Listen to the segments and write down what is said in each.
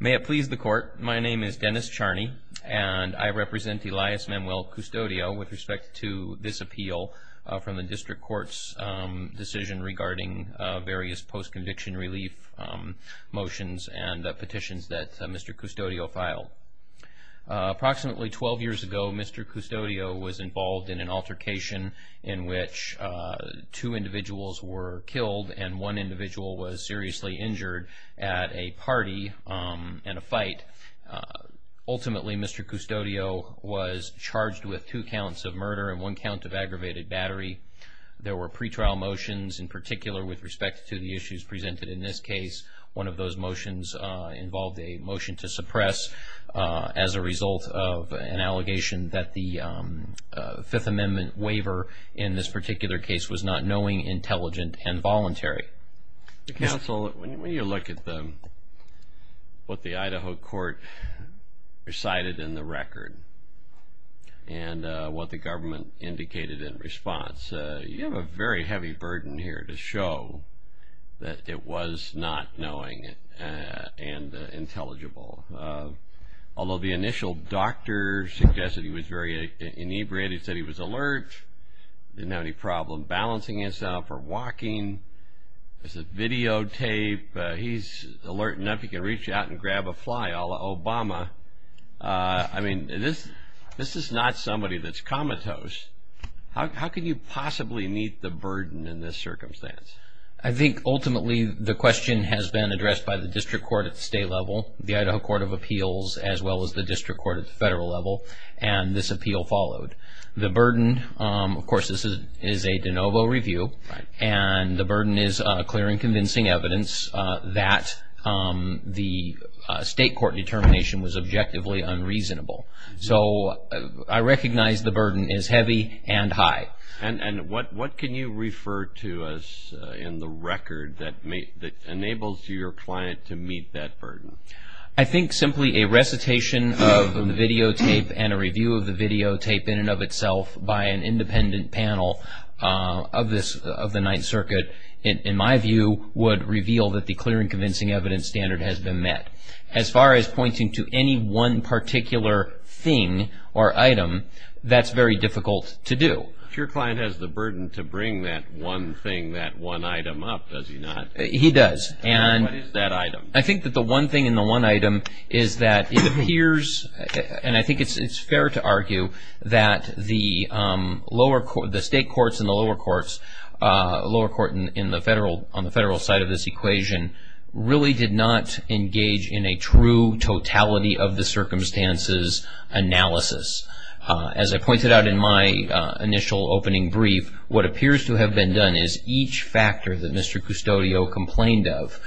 May it please the court. My name is Dennis Charney and I represent Elias Manuel Custodio with respect to this appeal from the district courts decision regarding various post conviction relief Motions and petitions that mr. Custodio filed Approximately 12 years ago. Mr. Custodio was involved in an altercation in which Two individuals were killed and one individual was seriously injured at a party and a fight Ultimately, mr. Custodio was charged with two counts of murder and one count of aggravated battery There were pretrial motions in particular with respect to the issues presented in this case. One of those motions involved a motion to suppress as a result of an allegation that the Fifth Amendment waiver in this particular case was not knowing intelligent and voluntary the council when you look at the what the Idaho court recited in the record and What the government indicated in response you have a very heavy burden here to show That it was not knowing it and intelligible Although the initial doctor suggested he was very inebriated said he was alert Didn't have any problem balancing himself or walking There's a videotape he's alert enough you can reach out and grab a fly ala Obama I mean this this is not somebody that's comatose How can you possibly meet the burden in this circumstance? I think ultimately the question has been addressed by the district court at the state level the Idaho Court of Appeals As well as the district court at the federal level and this appeal followed the burden Of course, this is is a de novo review and the burden is clear and convincing evidence that the State court determination was objectively unreasonable So I recognize the burden is heavy and high and and what what can you refer to us? In the record that may that enables your client to meet that burden I think simply a recitation of the videotape and a review of the videotape in and of itself by independent panel Of this of the Ninth Circuit in my view would reveal that the clear and convincing evidence standard has been met as far as pointing to any one particular thing or item That's very difficult to do if your client has the burden to bring that one thing that one item up Does he not he does and what is that item? I think that the one thing in the one item is that it appears and I think it's it's fair to argue that the lower court the state courts in the lower courts Lower court in the federal on the federal side of this equation Really did not engage in a true totality of the circumstances Analysis as I pointed out in my initial opening brief. What appears to have been done is each factor that mr custodio complained of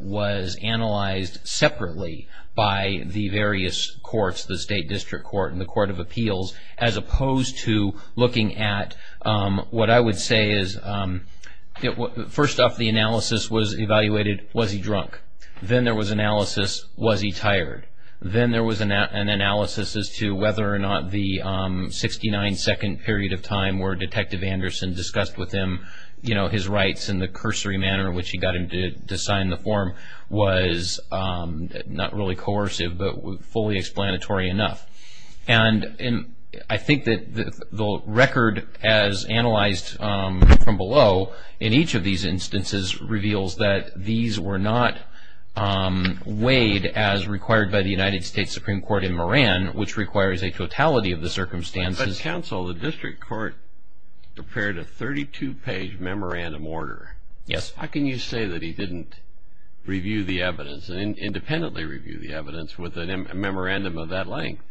was analyzed separately by the various courts the state district court in the Court of Appeals as looking at what I would say is It what first off the analysis was evaluated was he drunk then there was analysis was he tired? then there was an analysis as to whether or not the 69 second period of time were detective Anderson discussed with him you know his rights in the cursory manner, which he got him to sign the form was not really coercive, but fully explanatory enough and I think that the record as analyzed From below in each of these instances reveals that these were not Weighed as required by the United States Supreme Court in Moran which requires a totality of the circumstances counsel the district court Prepared a 32 page memorandum order. Yes. How can you say that? He didn't Review the evidence and independently review the evidence with a memorandum of that length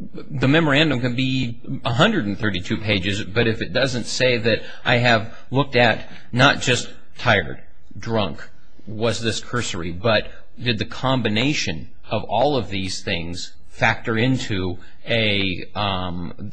The memorandum can be 132 pages, but if it doesn't say that I have looked at not just tired drunk was this cursory, but did the combination of all of these things factor into a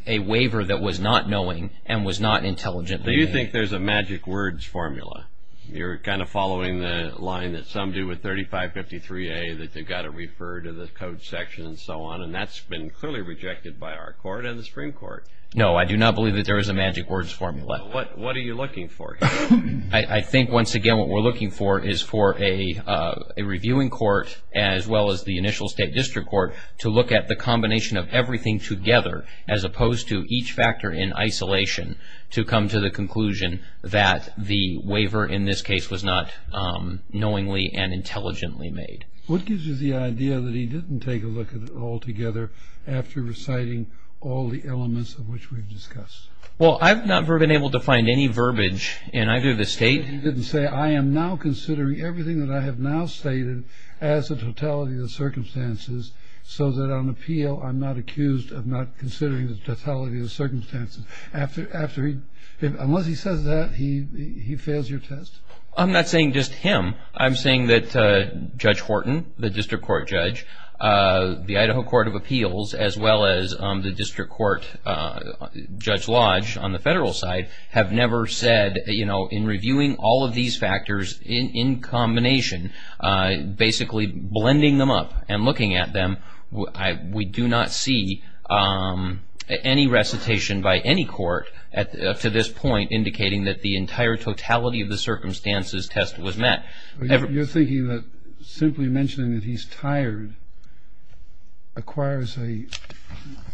A waiver that was not knowing and was not intelligent. Do you think there's a magic words formula? You're kind of following the line that some do with 3553 a that they've got to refer to the code section and so on and that's been clearly rejected by our court and the Supreme Court. No, I do not believe that there is a magic words formula. What what are you looking for? I think once again, what we're looking for is for a Reviewing court as well as the initial state district court to look at the combination of everything together as opposed to each factor in Isolation to come to the conclusion that the waiver in this case was not Knowingly and intelligently made what gives you the idea that he didn't take a look at it all together After reciting all the elements of which we've discussed Well, I've never been able to find any verbiage in either of the state He didn't say I am now considering everything that I have now stated as a totality of circumstances So that on appeal I'm not accused of not considering the totality of circumstances after after he unless he says that he Fails your test. I'm not saying just him. I'm saying that Judge Horton the district court judge The Idaho Court of Appeals as well as on the district court Judge Lodge on the federal side have never said, you know in reviewing all of these factors in in combination Basically blending them up and looking at them. I we do not see Any recitation by any court at to this point indicating that the entire totality of the circumstances test was met You're thinking that simply mentioning that he's tired Acquires a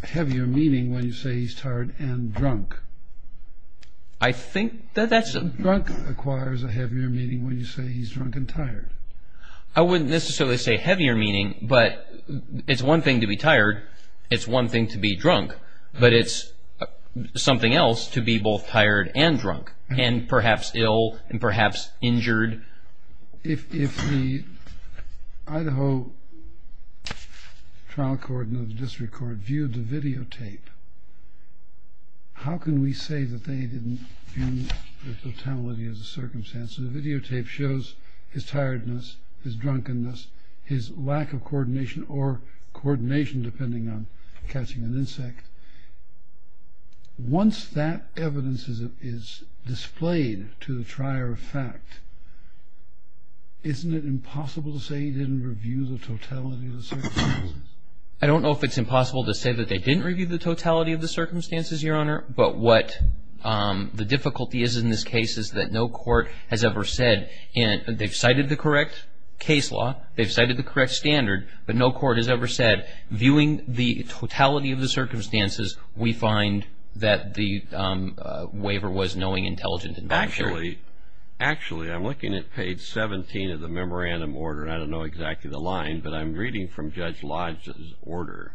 heavier meaning when you say he's tired and drunk I Think that that's a drunk acquires a heavier meaning when you say he's drunk and tired I wouldn't necessarily say heavier meaning but it's one thing to be tired it's one thing to be drunk, but it's Something else to be both tired and drunk and perhaps ill and perhaps injured if Idaho Trial court of the district court viewed the videotape How can we say that they didn't? totality of the circumstances videotape shows his tiredness his drunkenness his lack of coordination or Coordination depending on catching an insect Once that evidence is displayed to the trier of fact Isn't it impossible to say he didn't review the totality of the circumstances I don't know if it's impossible to say that they didn't review the totality of the circumstances your honor, but what? The difficulty is in this case is that no court has ever said and they've cited the correct case law They've cited the correct standard, but no court has ever said viewing the totality of the circumstances. We find that the Waiver was knowing intelligent and actually Actually, I'm looking at page 17 of the memorandum order. I don't know exactly the line, but I'm reading from Judge Lodge's order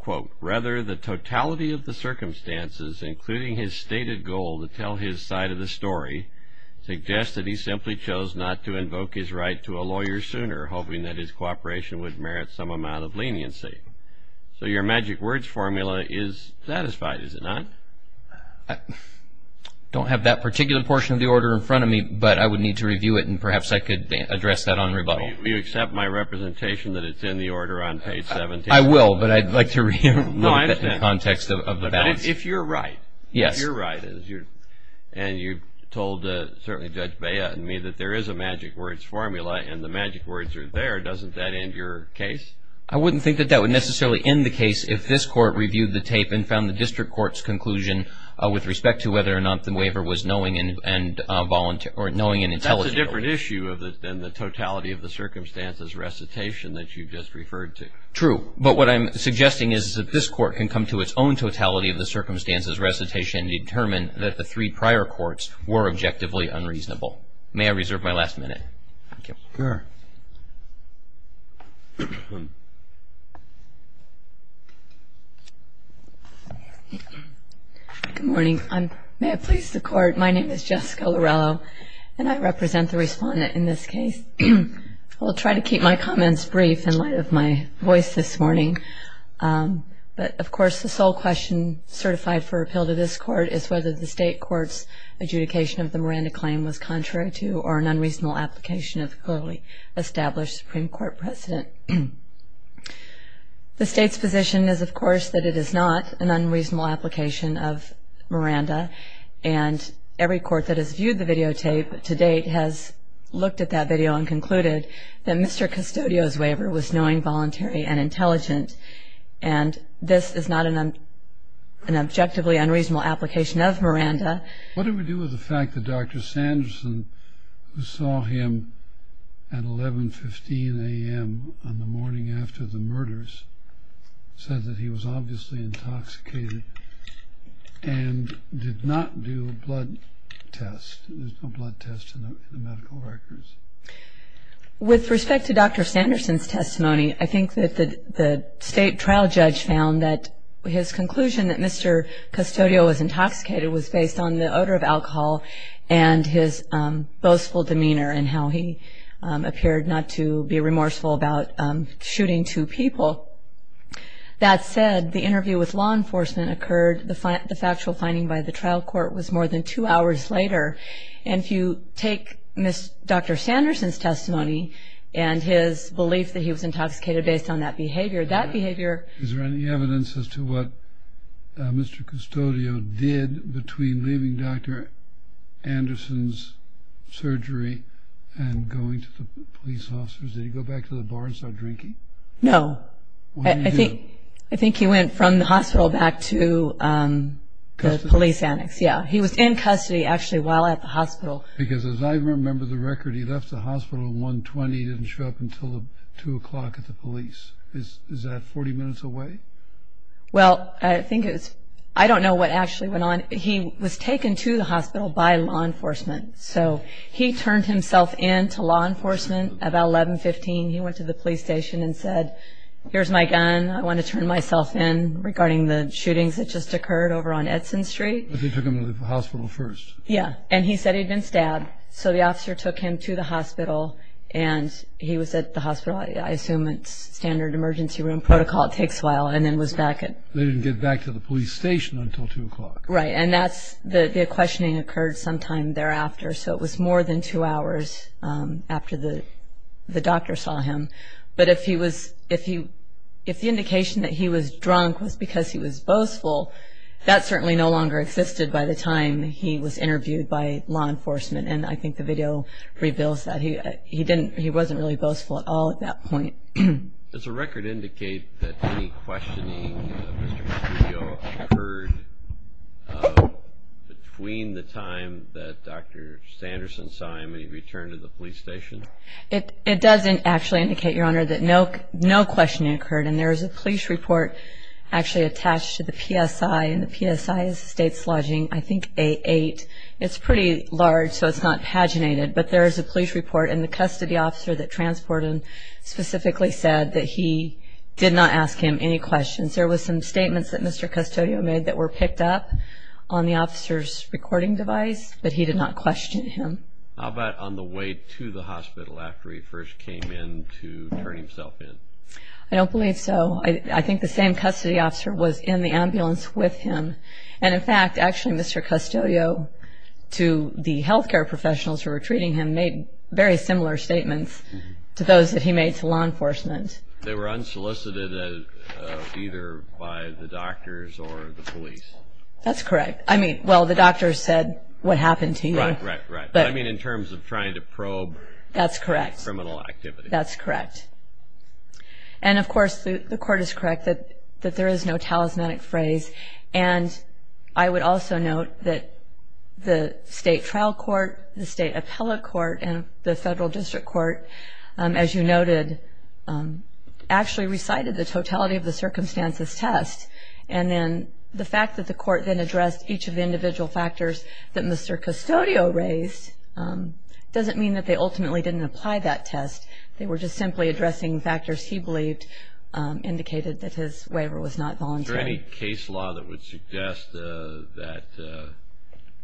Quote rather the totality of the circumstances including his stated goal to tell his side of the story Suggests that he simply chose not to invoke his right to a lawyer sooner hoping that his cooperation would merit some amount of leniency So your magic words formula is satisfied. Is it not? Don't have that particular portion of the order in front of me But I would need to review it and perhaps I could address that on rebuttal you accept my representation that it's in the order on Page seven I will but I'd like to read Context of the balance if you're right, yes, you're right Is your and you told certainly judge Baya and me that there is a magic words formula and the magic words are there? Doesn't that end your case? I wouldn't think that that would necessarily in the case if this court reviewed the tape and found the district courts conclusion With respect to whether or not the waiver was knowing and volunteer or knowing an intelligent issue of it Then the totality of the circumstances recitation that you just referred to true But what I'm suggesting is that this court can come to its own totality of the circumstances recitation Determined that the three prior courts were objectively unreasonable. May I reserve my last minute? Good morning. I'm may I please the court. My name is Jessica Laurello and I represent the respondent in this case I'll try to keep my comments brief in light of my voice this morning But of course the sole question certified for appeal to this court is whether the state courts Adjudication of the Miranda claim was contrary to or an unreasonable application of a fully established Supreme Court precedent The state's position is of course that it is not an unreasonable application of Miranda and Every court that has viewed the videotape to date has looked at that video and concluded that mr custodio's waiver was knowing voluntary and intelligent and This is not an Objectively unreasonable application of Miranda. What do we do with the fact that dr. Sanderson who saw him at? 1115 a.m. On the morning after the murders Said that he was obviously intoxicated And With respect to dr. Sanderson's testimony, I think that the state trial judge found that his conclusion that mr custodial was intoxicated was based on the odor of alcohol and his boastful demeanor and how he appeared not to be remorseful about shooting two people That said the interview with law enforcement Occurred the fact the factual finding by the trial court was more than two hours later And if you take miss dr. Sanderson's testimony and his belief that he was intoxicated based on that behavior that behavior Is there any evidence as to what? Mr. Custodio did between leaving dr. Anderson's Surgery and going to the police officers. Did he go back to the bar and start drinking? No I think I think he went from the hospital back to Police annex. Yeah, he was in custody actually while at the hospital because as I remember the record He left the hospital 120 didn't show up until the two o'clock at the police. Is that 40 minutes away? Well, I think it's I don't know what actually went on. He was taken to the hospital by law enforcement So he turned himself in to law enforcement about 1115 He went to the police station and said here's my gun I want to turn myself in regarding the shootings that just occurred over on Edson Street They took him to the hospital first. Yeah, and he said he'd been stabbed So the officer took him to the hospital and he was at the hospital I assume it's standard emergency room protocol. It takes a while and then was back And they didn't get back to the police station until two o'clock, right? And that's the questioning occurred sometime thereafter. So it was more than two hours After the the doctor saw him But if he was if he if the indication that he was drunk was because he was boastful That certainly no longer existed by the time he was interviewed by law enforcement And I think the video reveals that he he didn't he wasn't really boastful at all at that point. There's a record indicate Any questioning Between the time that dr. Sanderson saw him and he returned to the police station It it doesn't actually indicate your honor that no no questioning occurred and there is a police report Actually attached to the PSI and the PSI is state's lodging. I think a 8 it's pretty large So it's not paginated, but there is a police report and the custody officer that transported Specifically said that he did not ask him any questions. There was some statements that mr Custodio made that were picked up on the officer's recording device, but he did not question him I'll bet on the way to the hospital after he first came in to turn himself in I don't believe so. I think the same custody officer was in the ambulance with him. And in fact, actually, mr Custodio To the health care professionals who were treating him made very similar statements to those that he made to law enforcement They were unsolicited Either by the doctors or the police. That's correct. I mean, well the doctor said what happened to you, right? Right, right, but I mean in terms of trying to probe that's correct criminal activity. That's correct and of course the court is correct that that there is no talismanic phrase and I would also note that The state trial court the state appellate court and the federal district court as you noted Actually recited the totality of the circumstances test and then the fact that the court then addressed each of the individual factors that mr Custodio raised Doesn't mean that they ultimately didn't apply that test. They were just simply addressing factors. He believed Indicated that his waiver was not voluntary case law that would suggest that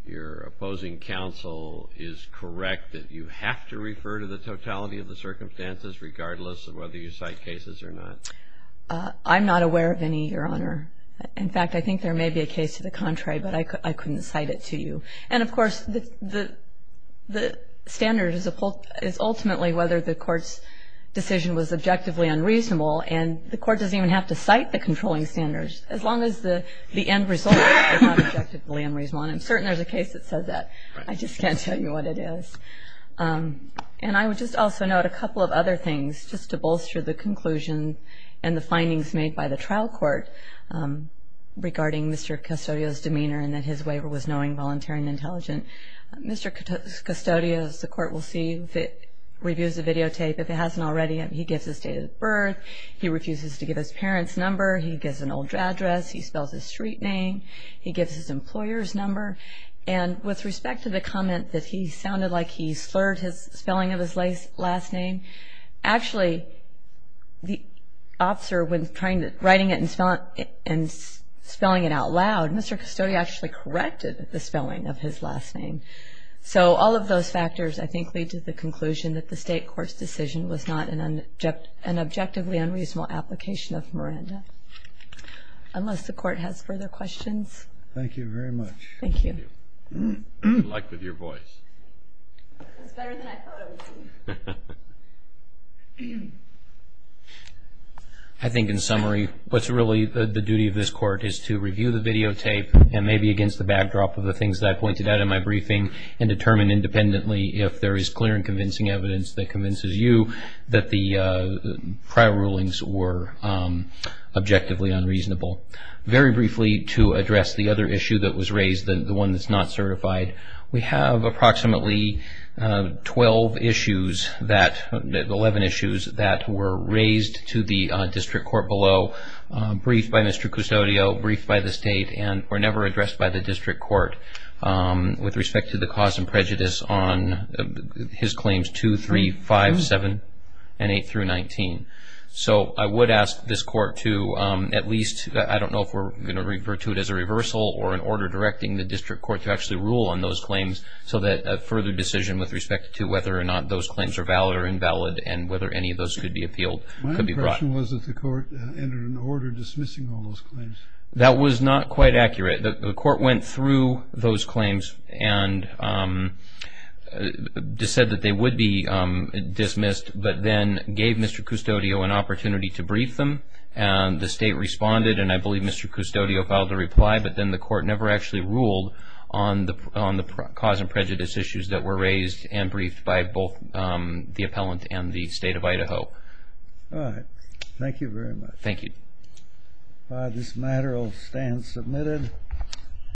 Your opposing counsel is correct that you have to refer to the totality of the circumstances Regardless of whether you cite cases or not I'm not aware of any your honor in fact I think there may be a case to the contrary but I couldn't cite it to you and of course the the The standard is a pulp is ultimately whether the court's Objectively unreasonable and the court doesn't even have to cite the controlling standards as long as the the end result I'm certain there's a case that said that I just can't tell you what it is And I would just also note a couple of other things just to bolster the conclusion and the findings made by the trial court Regarding mr. Custodio's demeanor and that his waiver was knowing voluntary and intelligent. Mr. Custodio's the court will see that Reviews a videotape if it hasn't already and he gives his date of birth. He refuses to give his parents number He gives an old address. He spells his street name He gives his employers number and with respect to the comment that he sounded like he slurred his spelling of his lace last name actually the Officer when trying to writing it and spell it and spelling it out loud. Mr. Custodio actually corrected the spelling of his last name So all of those factors I think lead to the conclusion that the state court's decision was not an object an objectively unreasonable application of Miranda Unless the court has further questions. Thank you very much. Thank you I Think in summary What's really the duty of this court is to review the videotape? maybe against the backdrop of the things that I pointed out in my briefing and determine independently if there is clear and convincing evidence that convinces you that the prior rulings were Objectively unreasonable very briefly to address the other issue that was raised than the one that's not certified. We have approximately 12 issues that 11 issues that were raised to the district court below Briefed by mr. Custodio briefed by the state and were never addressed by the district court with respect to the cause and prejudice on His claims two three five seven and eight through nineteen So I would ask this court to at least I don't know if we're gonna refer to it as a reversal or an order directing the district court to actually rule on those claims so that a further decision with respect to whether or not those claims are valid Invalid and whether any of those could be appealed That was not quite accurate the court went through those claims and Said that they would be Dismissed but then gave mr. Custodio an opportunity to brief them and the state responded and I believe mr Custodio filed a reply but then the court never actually ruled on The cause and prejudice issues that were raised and briefed by both the appellant and the state of Idaho Thank you very much. Thank you This matter will stand submitted